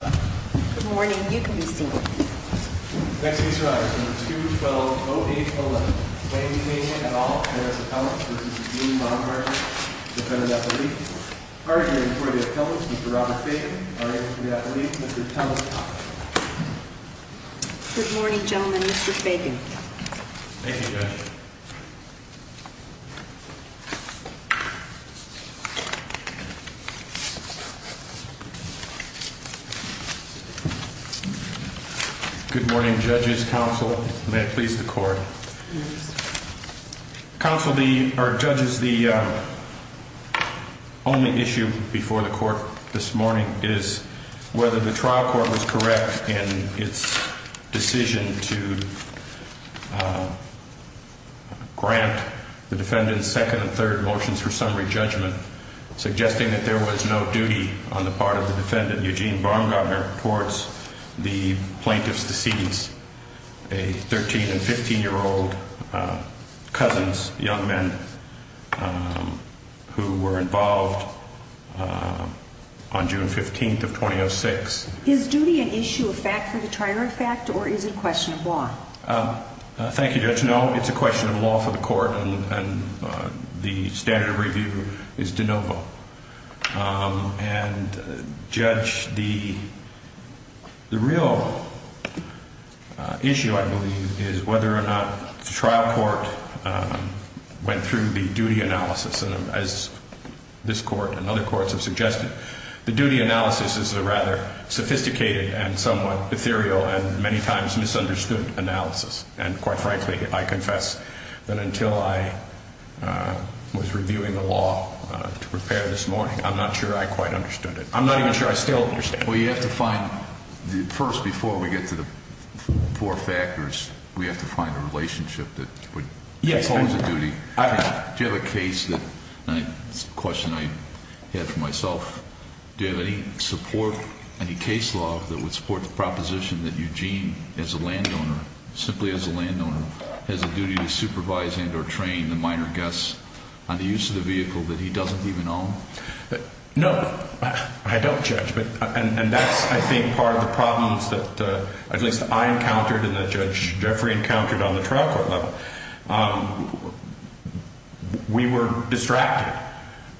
Good morning, you can be seated. Next case arrives, number 220811. Good morning, gentlemen. Mr. Fagan. Thank you, Judge. Good morning, Judges, Counsel. May it please the Court. Counsel, or Judges, the only issue before the Court this morning is whether the trial court was correct in its decision to grant the defendant's second and third motions for summary judgment, suggesting that there was no duty on the part of the defendant, Eugene Baumgartner, towards the plaintiff's deceit, a 13- and 15-year-old cousin's young men who were involved on June 15th of 2006. Is duty an issue of fact for the trier of fact, or is it a question of law? Thank you, Judge. No, it's a question of law for the Court, and the standard of review is de novo. And, Judge, the real issue, I believe, is whether or not the trial court went through the duty analysis. And as this Court and other courts have suggested, the duty analysis is a rather sophisticated and somewhat ethereal and many times misunderstood analysis. And quite frankly, I confess that until I was reviewing the law to prepare this morning, I'm not sure I quite understood it. I'm not even sure I still understand it. Well, you have to find – first, before we get to the four factors, we have to find a relationship that would – Yes. Do you have a case that – it's a question I had for myself. Do you have any support, any case law that would support the proposition that Eugene, as a landowner, simply as a landowner, has a duty to supervise and or train the minor guests on the use of the vehicle that he doesn't even own? And that's, I think, part of the problems that at least I encountered and that Judge Jeffrey encountered on the trial court level. We were distracted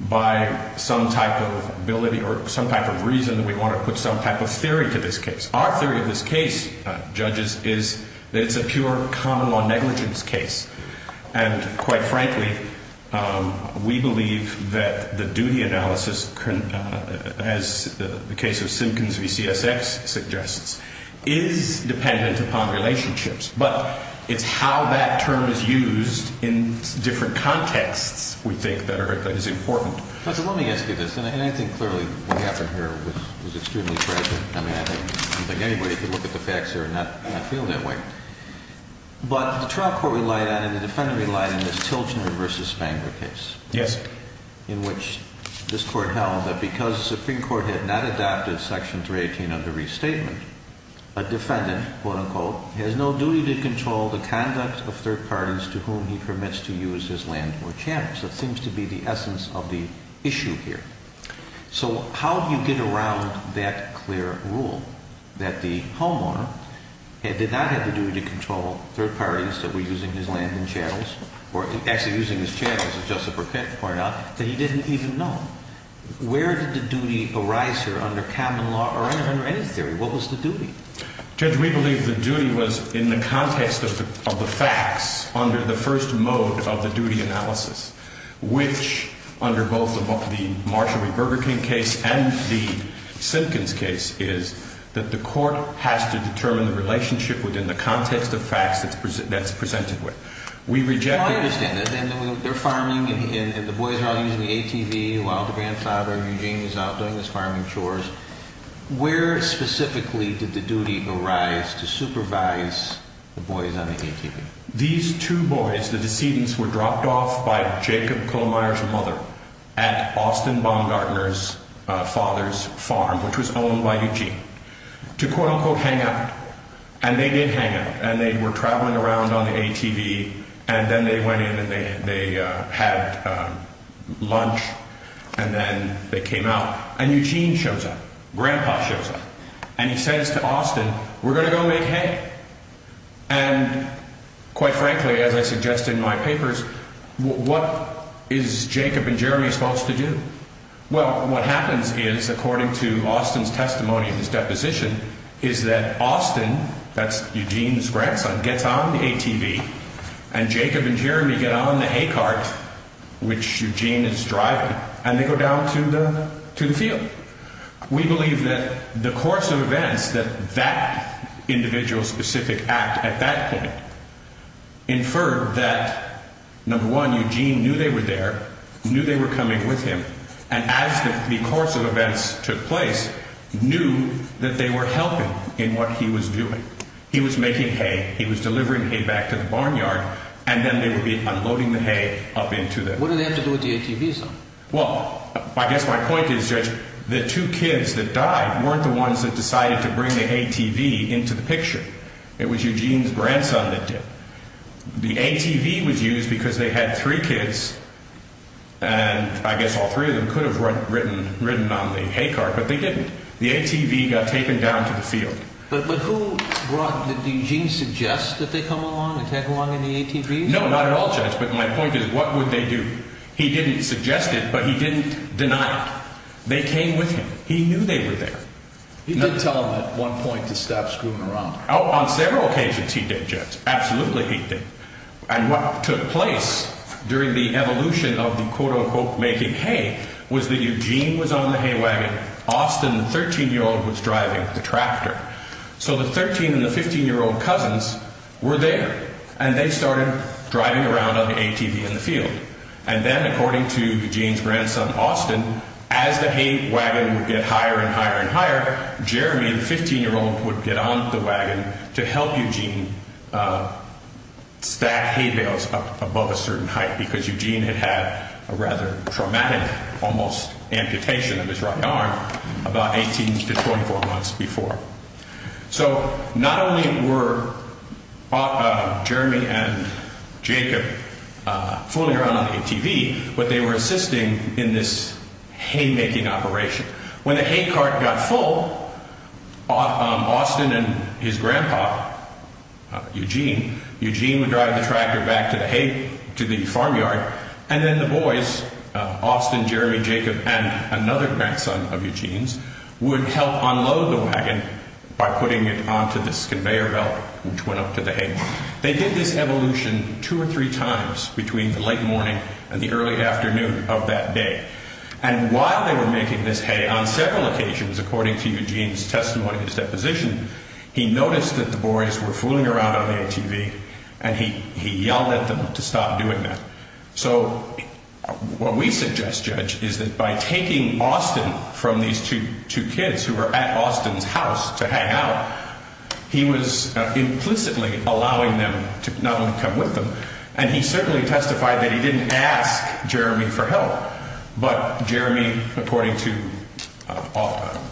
by some type of ability or some type of reason that we want to put some type of theory to this case. Our theory of this case, Judges, is that it's a pure common law negligence case. And quite frankly, we believe that the duty analysis, as the case of Simkins v. CSX suggests, is dependent upon relationships. But it's how that term is used in different contexts, we think, that is important. Judge, let me ask you this. And I think clearly what happened here was extremely tragic. I mean, I don't think anybody could look at the facts here and not feel that way. But the trial court relied on and the defendant relied on this Tilgener v. Spangler case. Yes. In which this court held that because the Supreme Court had not adopted Section 318 of the restatement, a defendant, quote unquote, has no duty to control the conduct of third parties to whom he permits to use his land or channels. That seems to be the essence of the issue here. So how do you get around that clear rule that the homeowner did not have the duty to control third parties that were using his land and channels, or actually using his channels, as Justice Burkett pointed out, that he didn't even know? Where did the duty arise here under common law or under any theory? What was the duty? Judge, we believe the duty was in the context of the facts under the first mode of the duty analysis, which under both the Marshall v. Burger King case and the Simpkins case, is that the court has to determine the relationship within the context of facts that's presented with. We reject that. I understand that. They're farming and the boys are all using the ATV while the grandfather, Eugene, is out doing his farming chores. Where specifically did the duty arise to supervise the boys on the ATV? These two boys, the decedents, were dropped off by Jacob Kohlmeier's mother at Austin Baumgartner's father's farm, which was owned by Eugene, to quote-unquote hang out. And they did hang out. And they were traveling around on the ATV, and then they went in and they had lunch, and then they came out. And Eugene shows up. Grandpa shows up. And he says to Austin, we're going to go make hay. And quite frankly, as I suggest in my papers, what is Jacob and Jeremy supposed to do? Well, what happens is, according to Austin's testimony in his deposition, is that Austin, that's Eugene's grandson, gets on the ATV, and Jacob and Jeremy get on the hay cart, which Eugene is driving, and they go down to the field. We believe that the course of events that that individual specific act at that point inferred that, number one, Eugene knew they were there, knew they were coming with him, and as the course of events took place, knew that they were helping in what he was doing. He was making hay. He was delivering hay back to the barnyard. And then they would be unloading the hay up into the field. What do they have to do with the ATV, sir? Well, I guess my point is, Judge, the two kids that died weren't the ones that decided to bring the ATV into the picture. It was Eugene's grandson that did. The ATV was used because they had three kids, and I guess all three of them could have ridden on the hay cart, but they didn't. The ATV got taken down to the field. But who brought, did Eugene suggest that they come along and tag along in the ATV? No, not at all, Judge. But my point is, what would they do? He didn't suggest it, but he didn't deny it. They came with him. He knew they were there. He did tell them at one point to stop screwing around. Oh, on several occasions he did, Judge. Absolutely he did. And what took place during the evolution of the quote-unquote making hay was that Eugene was on the hay wagon, Austin, the 13-year-old, was driving the tractor. So the 13- and the 15-year-old cousins were there, and they started driving around on the ATV in the field. And then, according to Eugene's grandson, Austin, as the hay wagon would get higher and higher and higher, Jeremy, the 15-year-old, would get on the wagon to help Eugene stack hay bales up above a certain height because Eugene had had a rather traumatic almost amputation of his right arm about 18 to 24 months before. So not only were Jeremy and Jacob fooling around on the ATV, but they were assisting in this hay-making operation. When the hay cart got full, Austin and his grandpa, Eugene, Eugene would drive the tractor back to the hay, to the farmyard, and then the boys, Austin, Jeremy, Jacob, and another grandson of Eugene's, would help unload the wagon by putting it onto this conveyor belt which went up to the hay. They did this evolution two or three times between the late morning and the early afternoon of that day. And while they were making this hay, on several occasions, according to Eugene's testimony, his deposition, he noticed that the boys were fooling around on the ATV, and he yelled at them to stop doing that. So what we suggest, Judge, is that by taking Austin from these two kids who were at Austin's house to hang out, he was implicitly allowing them to not only come with them, and he certainly testified that he didn't ask Jeremy for help, but Jeremy, according to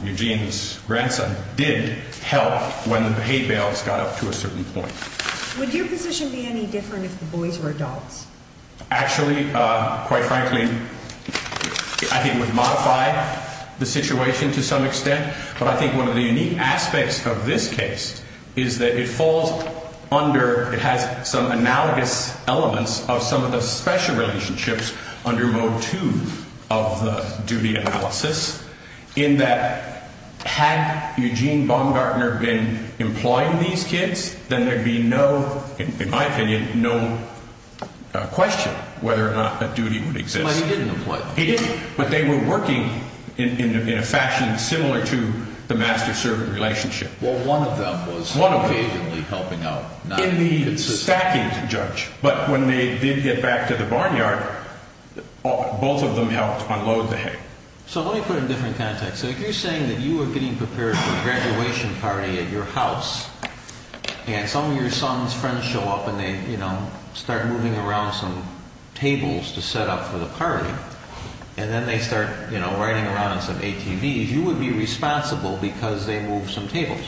Eugene's grandson, did help when the hay bales got up to a certain point. Would your position be any different if the boys were adults? Actually, quite frankly, I think it would modify the situation to some extent, but I think one of the unique aspects of this case is that it falls under, it has some analogous elements of some of the special relationships under Mode 2 of the duty analysis, in that had Eugene Baumgartner been employing these kids, then there'd be no, in my opinion, no question whether or not a duty would exist. But he didn't employ them. He didn't, but they were working in a fashion similar to the master-servant relationship. Well, one of them was occasionally helping out. In the stacking, Judge, but when they did get back to the barnyard, both of them helped unload the hay. So let me put it in a different context. So if you're saying that you were getting prepared for a graduation party at your house, and some of your son's friends show up and they start moving around some tables to set up for the party, and then they start riding around on some ATVs, you would be responsible because they moved some tables.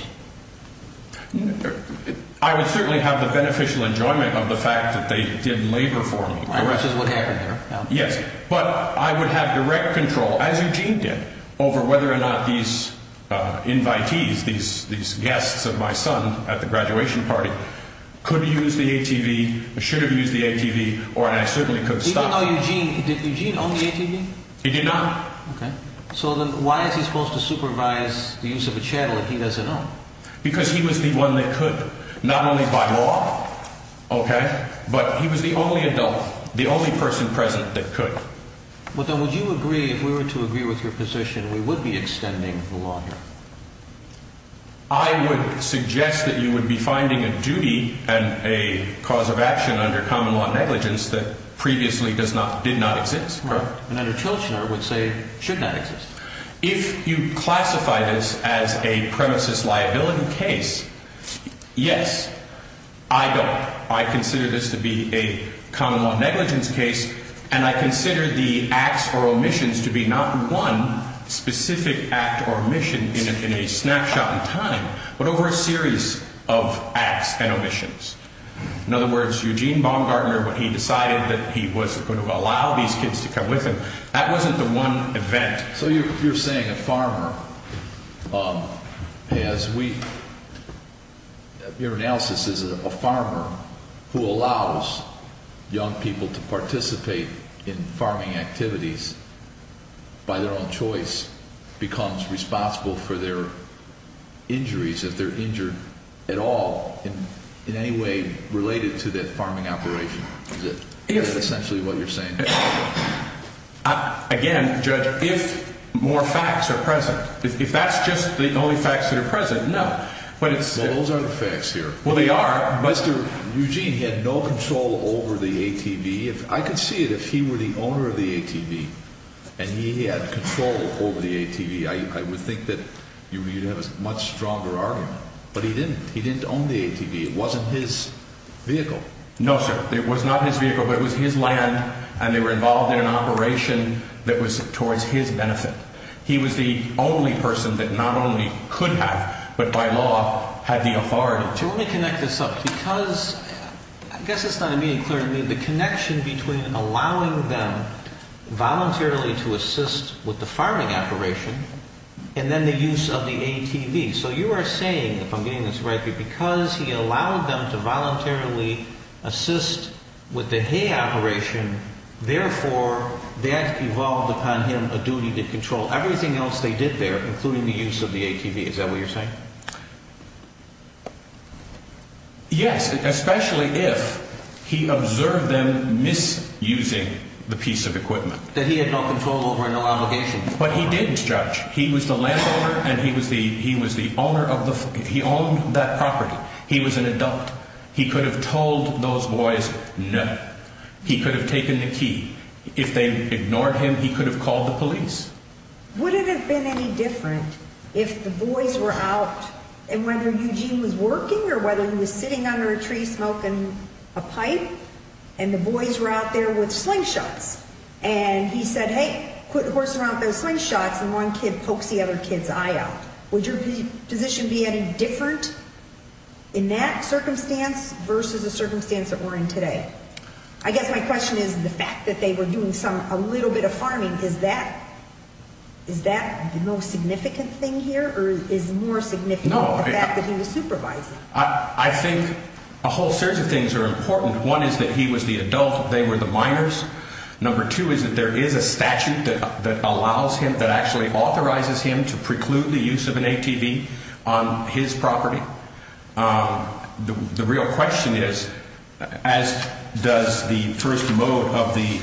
I would certainly have the beneficial enjoyment of the fact that they did labor for me. Which is what happened there. Yes, but I would have direct control, as Eugene did, over whether or not these invitees, these guests of my son at the graduation party, could use the ATV, should have used the ATV, or I certainly could stop them. Even though Eugene, did Eugene own the ATV? He did not. Okay. So then why is he supposed to supervise the use of a channel that he doesn't own? Because he was the one that could, not only by law, okay, but he was the only adult, the only person present that could. But then would you agree, if we were to agree with your position, we would be extending the law here? I would suggest that you would be finding a duty and a cause of action under common law negligence that previously did not exist. Right. And under Chilchner it would say should not exist. If you classify this as a premises liability case, yes, I don't. I consider this to be a common law negligence case, and I consider the acts or omissions to be not one specific act or omission in a snapshot in time, but over a series of acts and omissions. In other words, Eugene Baumgartner, when he decided that he was going to allow these kids to come with him, that wasn't the one event. So you're saying a farmer, as we, your analysis is a farmer who allows young people to participate in farming activities by their own choice becomes responsible for their injuries if they're injured at all in any way related to that farming operation. Is that essentially what you're saying? Again, Judge, if more facts are present, if that's just the only facts that are present, no. Well, those aren't the facts here. Well, they are. Mr. Eugene had no control over the ATV. I could see it if he were the owner of the ATV and he had control over the ATV. I would think that you'd have a much stronger argument, but he didn't. He didn't own the ATV. It wasn't his vehicle. No, sir. It was not his vehicle, but it was his land, and they were involved in an operation that was towards his benefit. He was the only person that not only could have, but by law had the authority to. Let me connect this up because I guess it's not immediately clear to me the connection between allowing them voluntarily to assist with the farming operation and then the use of the ATV. So you are saying, if I'm getting this right, that because he allowed them to voluntarily assist with the hay operation, therefore that evolved upon him a duty to control everything else they did there, including the use of the ATV. Is that what you're saying? Yes, especially if he observed them misusing the piece of equipment. That he had no control over and no obligation. But he didn't, Judge. He was the landowner, and he was the owner of the, he owned that property. He was an adult. He could have told those boys no. He could have taken the key. If they ignored him, he could have called the police. Wouldn't it have been any different if the boys were out, and whether Eugene was working or whether he was sitting under a tree smoking a pipe, and the boys were out there with slingshots, and he said, hey, put the horse around those slingshots, and one kid pokes the other kid's eye out. Would your position be any different in that circumstance versus the circumstance that we're in today? I guess my question is the fact that they were doing some, a little bit of farming. Is that the most significant thing here, or is more significant the fact that he was supervising? I think a whole series of things are important. One is that he was the adult, they were the minors. Number two is that there is a statute that allows him, that actually authorizes him to preclude the use of an ATV on his property. The real question is, as does the first mode of the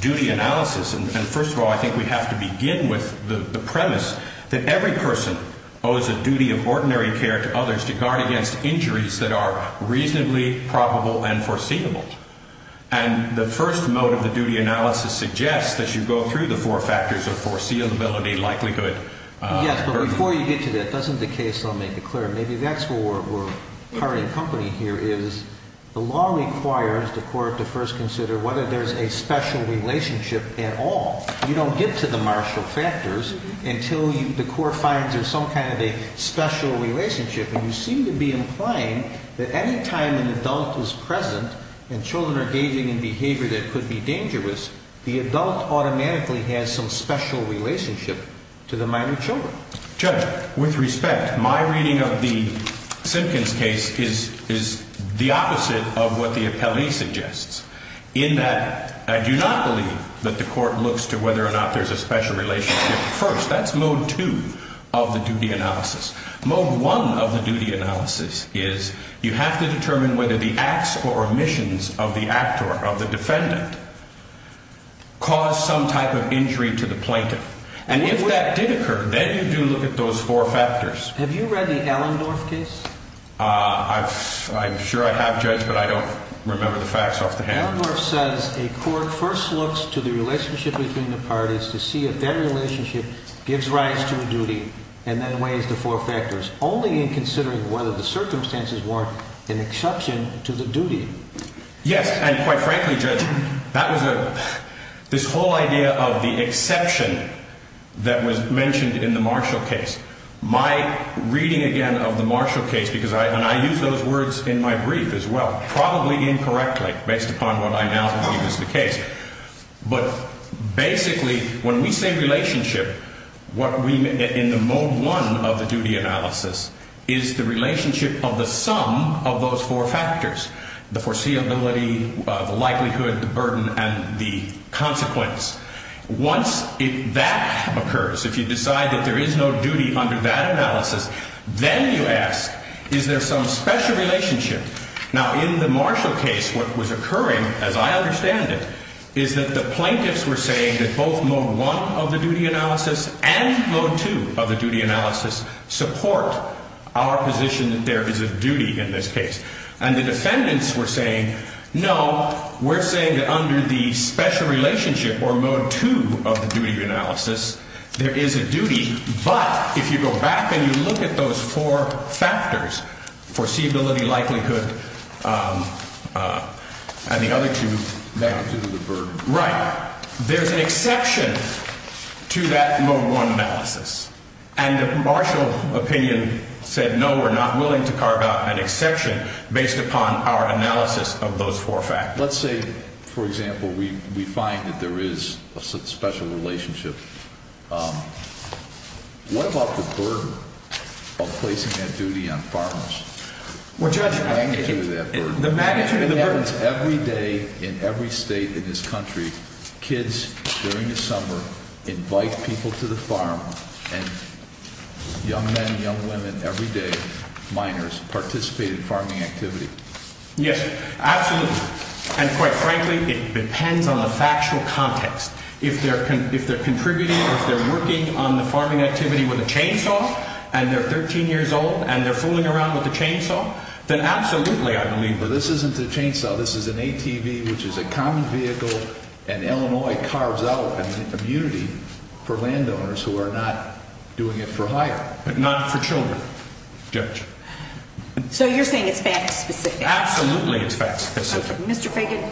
duty analysis, and first of all, I think we have to begin with the premise that every person owes a duty of ordinary care to others to guard against injuries that are reasonably probable and foreseeable. And the first mode of the duty analysis suggests that you go through the four factors of foreseeability, likelihood, Yes, but before you get to that, doesn't the case, I'll make it clear, maybe that's where we're part in company here, is the law requires the court to first consider whether there's a special relationship at all. You don't get to the martial factors until the court finds there's some kind of a special relationship, and you seem to be implying that any time an adult is present and children are gauging in behavior that could be dangerous, the adult automatically has some special relationship to the minor children. Judge, with respect, my reading of the Simpkins case is the opposite of what the appellee suggests, in that I do not believe that the court looks to whether or not there's a special relationship first. That's mode two of the duty analysis. Mode one of the duty analysis is you have to determine whether the acts or omissions of the actor, of the defendant, cause some type of injury to the plaintiff. And if that did occur, then you do look at those four factors. Have you read the Allendorf case? I'm sure I have, Judge, but I don't remember the facts off the hand. Allendorf says a court first looks to the relationship between the parties to see if their relationship gives rise to a duty and then weighs the four factors, only in considering whether the circumstances warrant an exception to the duty. Yes, and quite frankly, Judge, this whole idea of the exception that was mentioned in the Marshall case, my reading again of the Marshall case, and I use those words in my brief as well, probably incorrectly based upon what I now believe is the case. But basically when we say relationship, in the mode one of the duty analysis is the relationship of the sum of those four factors, the foreseeability, the likelihood, the burden, and the consequence. Once that occurs, if you decide that there is no duty under that analysis, then you ask, is there some special relationship? Now, in the Marshall case, what was occurring, as I understand it, is that the plaintiffs were saying that both mode one of the duty analysis and mode two of the duty analysis support our position that there is a duty in this case. And the defendants were saying, no, we're saying that under the special relationship or mode two of the duty analysis, there is a duty, but if you go back and you look at those four factors, foreseeability, likelihood, and the other two, there's an exception to that mode one analysis. And the Marshall opinion said, no, we're not willing to carve out an exception based upon our analysis of those four factors. Let's say, for example, we find that there is a special relationship. What about the burden of placing that duty on farmers? The magnitude of that burden. It happens every day in every state in this country. Kids during the summer invite people to the farm, and young men and young women every day, minors, participate in farming activity. Yes, absolutely. And quite frankly, it depends on the factual context. If they're contributing or if they're working on the farming activity with a chainsaw, and they're 13 years old, and they're fooling around with a chainsaw, then absolutely, I believe. But this isn't a chainsaw. This is an ATV, which is a common vehicle, and Illinois carves out an immunity for landowners who are not doing it for hire, but not for children. Judge. So you're saying it's fact specific. Absolutely, it's fact specific. Mr. Fagan,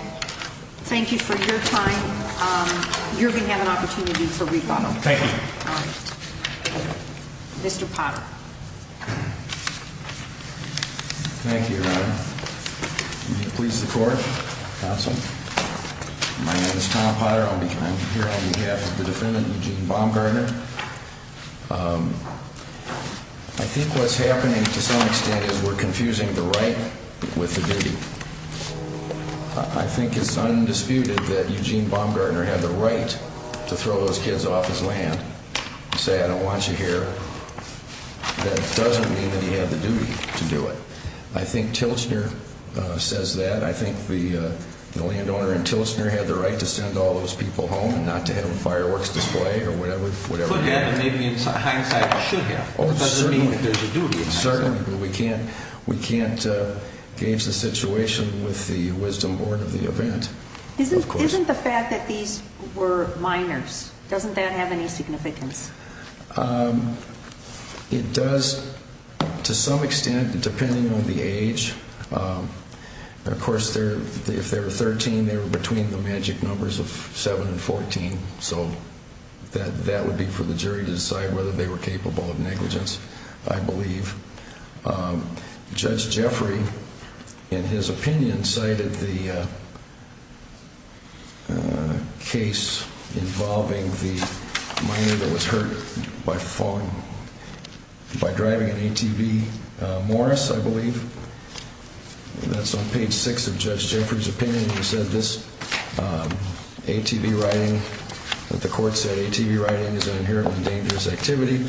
thank you for your time. You're going to have an opportunity for rebuttal. Thank you. All right. Mr. Potter. Thank you, Your Honor. May it please the court, counsel. My name is Tom Potter. I'm here on behalf of the defendant, Eugene Baumgartner. I think what's happening to some extent is we're confusing the right with the duty. I think it's undisputed that Eugene Baumgartner had the right to throw those kids off his land and say, I don't want you here. That doesn't mean that he had the duty to do it. I think Tilichner says that. I think the landowner in Tilichner had the right to send all those people home, not to have a fireworks display or whatever. Maybe hindsight should have. Certainly, but we can't gauge the situation with the wisdom born of the event. Isn't the fact that these were minors, doesn't that have any significance? It does to some extent, depending on the age. Of course, if they were 13, they were between the magic numbers of 7 and 14. So that would be for the jury to decide whether they were capable of negligence, I believe. Judge Jeffrey, in his opinion, cited the case involving the minor that was hurt by driving an ATV, Morris, I believe. That's on page 6 of Judge Jeffrey's opinion. He said this ATV riding, that the court said ATV riding is an inherently dangerous activity,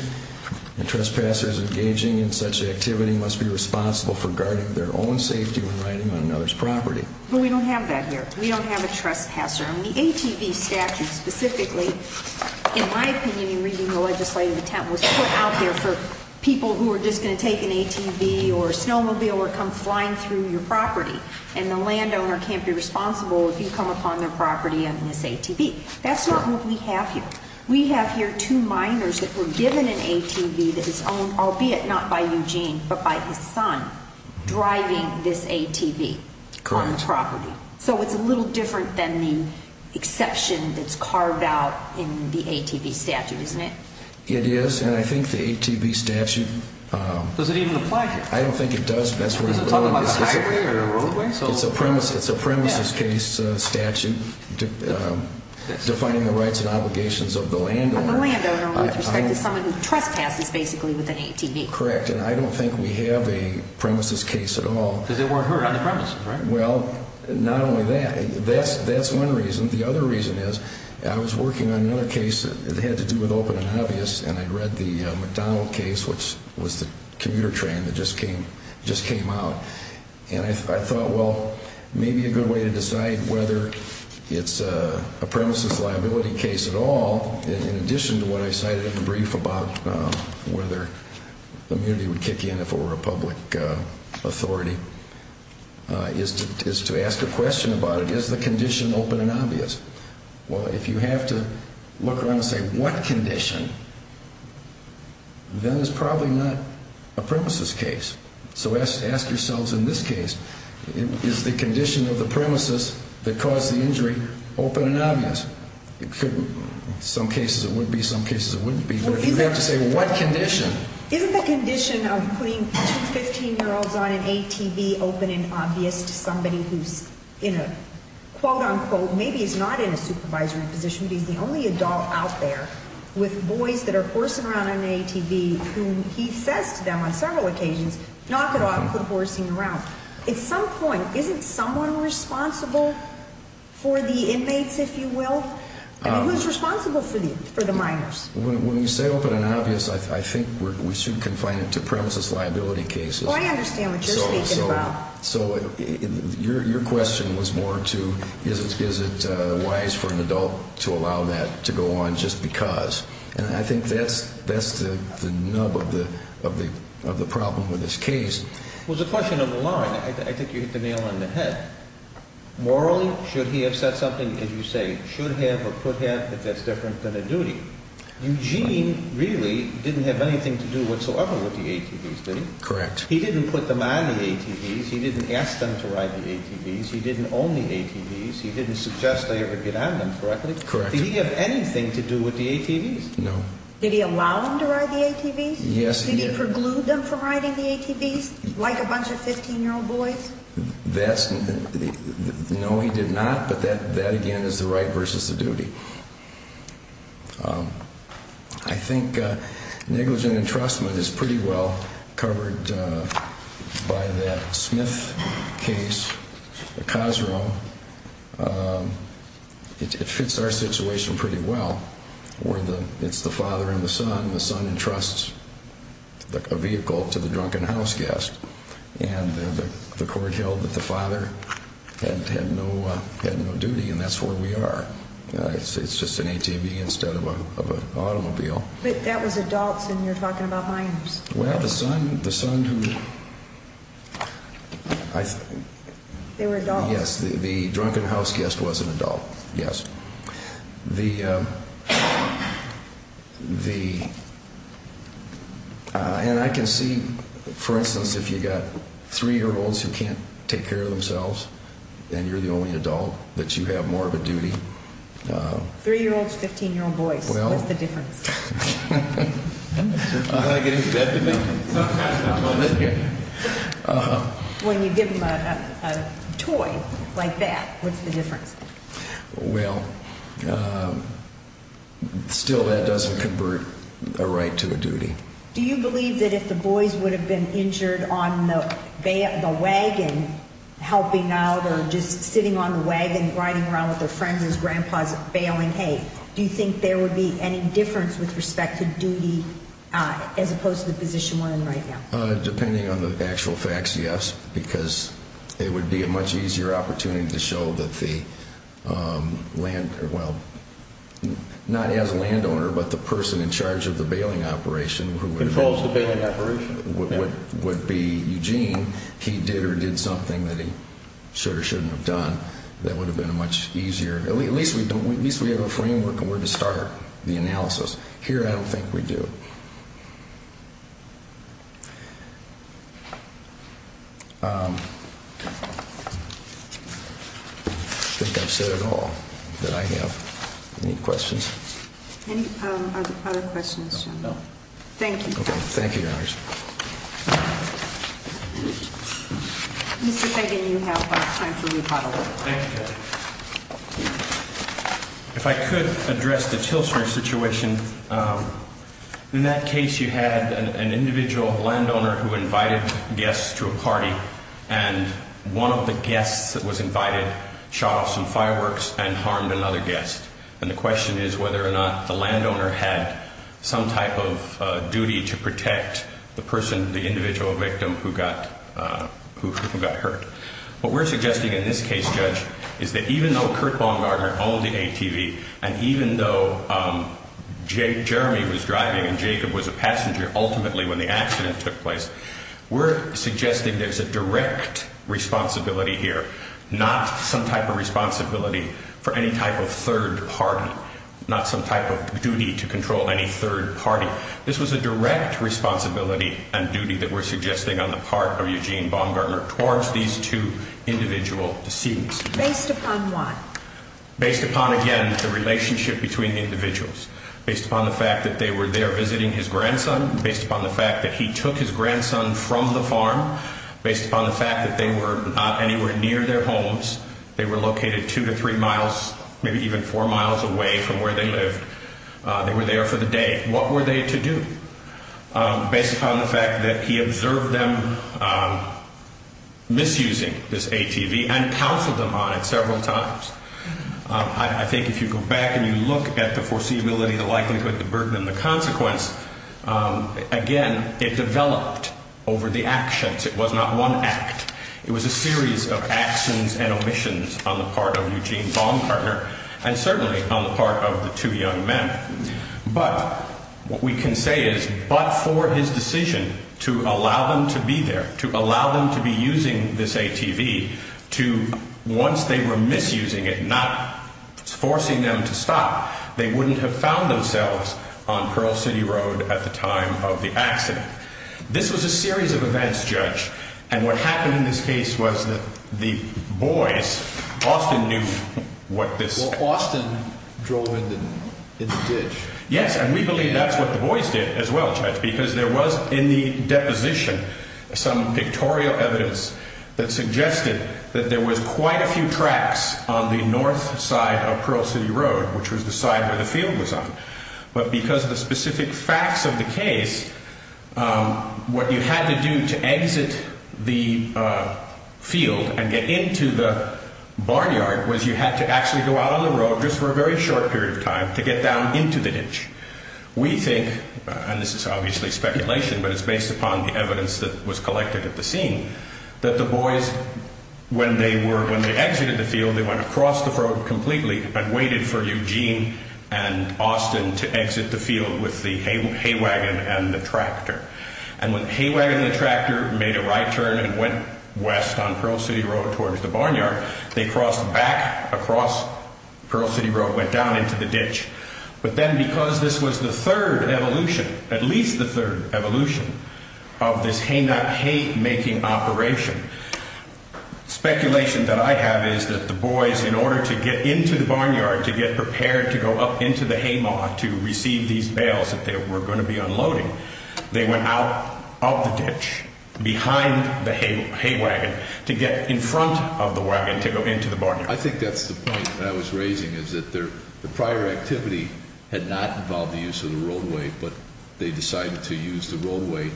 and trespassers engaging in such activity must be responsible for guarding their own safety when riding on another's property. But we don't have that here. We don't have a trespasser. The ATV statute specifically, in my opinion, in reading the legislative attempt, was put out there for people who were just going to take an ATV or a snowmobile or come flying through your property. And the landowner can't be responsible if you come upon their property on this ATV. That's not what we have here. We have here two minors that were given an ATV that is owned, albeit not by Eugene, but by his son, driving this ATV on the property. So it's a little different than the exception that's carved out in the ATV statute, isn't it? It is, and I think the ATV statute— Does it even apply to us? I don't think it does. Is it talking about highway or roadway? It's a premises case statute defining the rights and obligations of the landowner. Of the landowner with respect to someone who trespasses, basically, with an ATV. Correct. And I don't think we have a premises case at all. Because they weren't heard on the premises, right? Well, not only that. That's one reason. The other reason is I was working on another case that had to do with open and obvious, and I read the McDonald case, which was the commuter train that just came out, and I thought, well, maybe a good way to decide whether it's a premises liability case at all, in addition to what I cited in the brief about whether immunity would kick in if it were a public authority, is to ask a question about it. Is the condition open and obvious? Well, if you have to look around and say what condition, then it's probably not a premises case. So ask yourselves in this case, is the condition of the premises that caused the injury open and obvious? In some cases it would be, in some cases it wouldn't be. But if you have to say what condition. Isn't the condition of putting two 15-year-olds on an ATV open and obvious to somebody who's in a, quote-unquote, maybe he's not in a supervisory position, but he's the only adult out there, with boys that are horsing around on an ATV, who he says to them on several occasions, knock it off, quit horsing around. At some point, isn't someone responsible for the inmates, if you will? I mean, who's responsible for the minors? When you say open and obvious, I think we should confine it to premises liability cases. Well, I understand what you're speaking about. So your question was more to is it wise for an adult to allow that to go on just because. And I think that's the nub of the problem with this case. Well, it's a question of the law. I think you hit the nail on the head. Morally, should he have said something, as you say, should have or could have, if that's different than a duty. Eugene really didn't have anything to do whatsoever with the ATVs, did he? Correct. He didn't put them on the ATVs, he didn't ask them to ride the ATVs, he didn't own the ATVs, he didn't suggest they ever get on them correctly. Correct. Did he have anything to do with the ATVs? No. Did he allow them to ride the ATVs? Yes, he did. Did he preclude them from riding the ATVs, like a bunch of 15-year-old boys? No, he did not. But that, again, is the right versus the duty. I think negligent entrustment is pretty well covered by that Smith case, the Cosrow. It fits our situation pretty well, where it's the father and the son, the son entrusts a vehicle to the drunken houseguest, and the court held that the father had no duty, and that's where we are. It's just an ATV instead of an automobile. But that was adults, and you're talking about minors. Well, the son who... They were adults. Yes, the drunken houseguest was an adult, yes. And I can see, for instance, if you've got three-year-olds who can't take care of themselves, then you're the only adult that you have more of a duty. Three-year-olds, 15-year-old boys, what's the difference? You want to get into bed with me? When you give them a toy like that, what's the difference? Well, still that doesn't convert a right to a duty. Do you believe that if the boys would have been injured on the wagon, helping out or just sitting on the wagon, riding around with their friends as grandpas bailing, hey, do you think there would be any difference with respect to duty as opposed to the position we're in right now? Depending on the actual facts, yes, because it would be a much easier opportunity to show that the land... Well, not as a landowner, but the person in charge of the bailing operation... Controls the bailing operation. Would be Eugene. He did or did something that he should or shouldn't have done that would have been a much easier... At least we have a framework of where to start the analysis. Here, I don't think we do. I think I've said it all that I have. Any questions? Any other questions? No. Thank you. Okay. Thank you, Your Honor. Mr. Fagan, you have time for rebuttal. Thank you, Judge. If I could address the Tilson situation, in that case you had an individual landowner who invited guests to a party, and one of the guests that was invited shot off some fireworks and harmed another guest. And the question is whether or not the landowner had some type of duty to protect the person, the individual victim who got hurt. What we're suggesting in this case, Judge, is that even though Kurt Baumgartner owned the ATV, and even though Jeremy was driving and Jacob was a passenger ultimately when the accident took place, we're suggesting there's a direct responsibility here, not some type of responsibility for any type of third party, not some type of duty to control any third party. This was a direct responsibility and duty that we're suggesting on the part of Eugene Baumgartner towards these two individual deceased. Based upon what? Based upon, again, the relationship between the individuals. Based upon the fact that they were there visiting his grandson. Based upon the fact that he took his grandson from the farm. Based upon the fact that they were not anywhere near their homes. They were located two to three miles, maybe even four miles away from where they lived. They were there for the day. What were they to do? Based upon the fact that he observed them misusing this ATV and counseled them on it several times. I think if you go back and you look at the foreseeability, the likelihood, the burden, and the consequence, again, it developed over the actions. It was not one act. It was a series of actions and omissions on the part of Eugene Baumgartner and certainly on the part of the two young men. But what we can say is, but for his decision to allow them to be there, to allow them to be using this ATV, to, once they were misusing it, not forcing them to stop, they wouldn't have found themselves on Pearl City Road at the time of the accident. This was a series of events, Judge. And what happened in this case was that the boys often knew what this... Yes, and we believe that's what the boys did as well, Judge, because there was in the deposition some pictorial evidence that suggested that there was quite a few tracks on the north side of Pearl City Road, which was the side where the field was on. But because of the specific facts of the case, what you had to do to exit the field and get into the barnyard was you had to actually go out on the road just for a very short period of time to get down into the ditch. We think, and this is obviously speculation, but it's based upon the evidence that was collected at the scene, that the boys, when they exited the field, they went across the road completely and waited for Eugene and Austin to exit the field with the hay wagon and the tractor. And when the hay wagon and the tractor made a right turn and went west on Pearl City Road towards the barnyard, they crossed back across Pearl City Road, went down into the ditch. But then because this was the third evolution, at least the third evolution of this hay-making operation, speculation that I have is that the boys, in order to get into the barnyard to get prepared to go up into the hay mower to receive these bales that they were going to be unloading, they went out of the ditch behind the hay wagon to get in front of the wagon to go into the barnyard. I think that's the point that I was raising, is that the prior activity had not involved the use of the roadway, but they decided to use the roadway.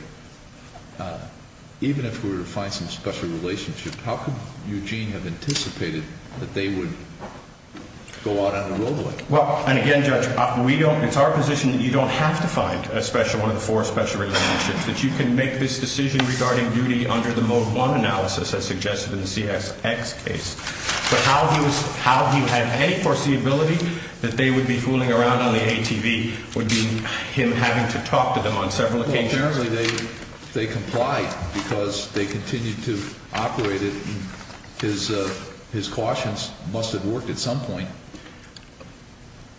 Even if we were to find some special relationship, how could Eugene have anticipated that they would go out on the roadway? Well, and again, Judge, it's our position that you don't have to find one of the four special relationships, that you can make this decision regarding duty under the Mode 1 analysis as suggested in the CSX case. But how he had any foreseeability that they would be fooling around on the ATV would be him having to talk to them on several occasions. Well, apparently they complied because they continued to operate it, and his cautions must have worked at some point.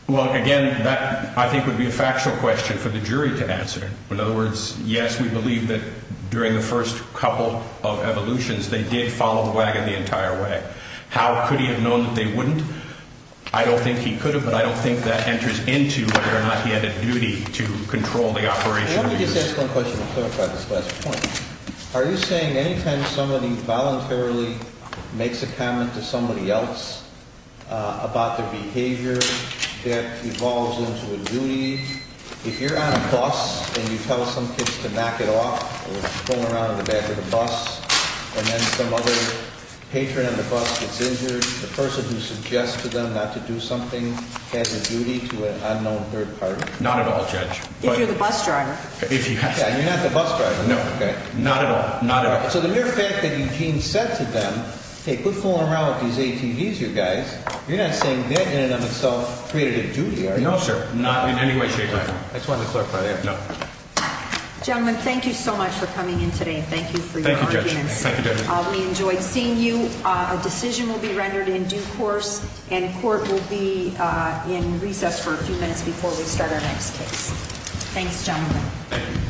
Well, again, that I think would be a factual question for the jury to answer. In other words, yes, we believe that during the first couple of evolutions, they did follow the wagon the entire way. How could he have known that they wouldn't? I don't think he could have, but I don't think that enters into whether or not he had a duty to control the operation of the unit. Let me just ask one question to clarify this last point. Are you saying any time somebody voluntarily makes a comment to somebody else about their behavior that evolves into a duty, if you're on a bus and you tell some kids to knock it off or if you're fooling around in the back of the bus and then some other patron on the bus gets injured, the person who suggests to them not to do something has a duty to an unknown third party? Not at all, Judge. If you're the bus driver. Yeah, and you're not the bus driver. No, not at all. So the mere fact that Eugene said to them, hey, quit fooling around with these ATVs, you guys, you're not saying that in and of itself created a duty, are you? No, sir, not in any way, shape, or form. I just wanted to clarify that. No. Gentlemen, thank you so much for coming in today. Thank you for your arguments. Thank you, Judge. We enjoyed seeing you. A decision will be rendered in due course, and court will be in recess for a few minutes before we start our next case. Thanks, gentlemen. Thank you.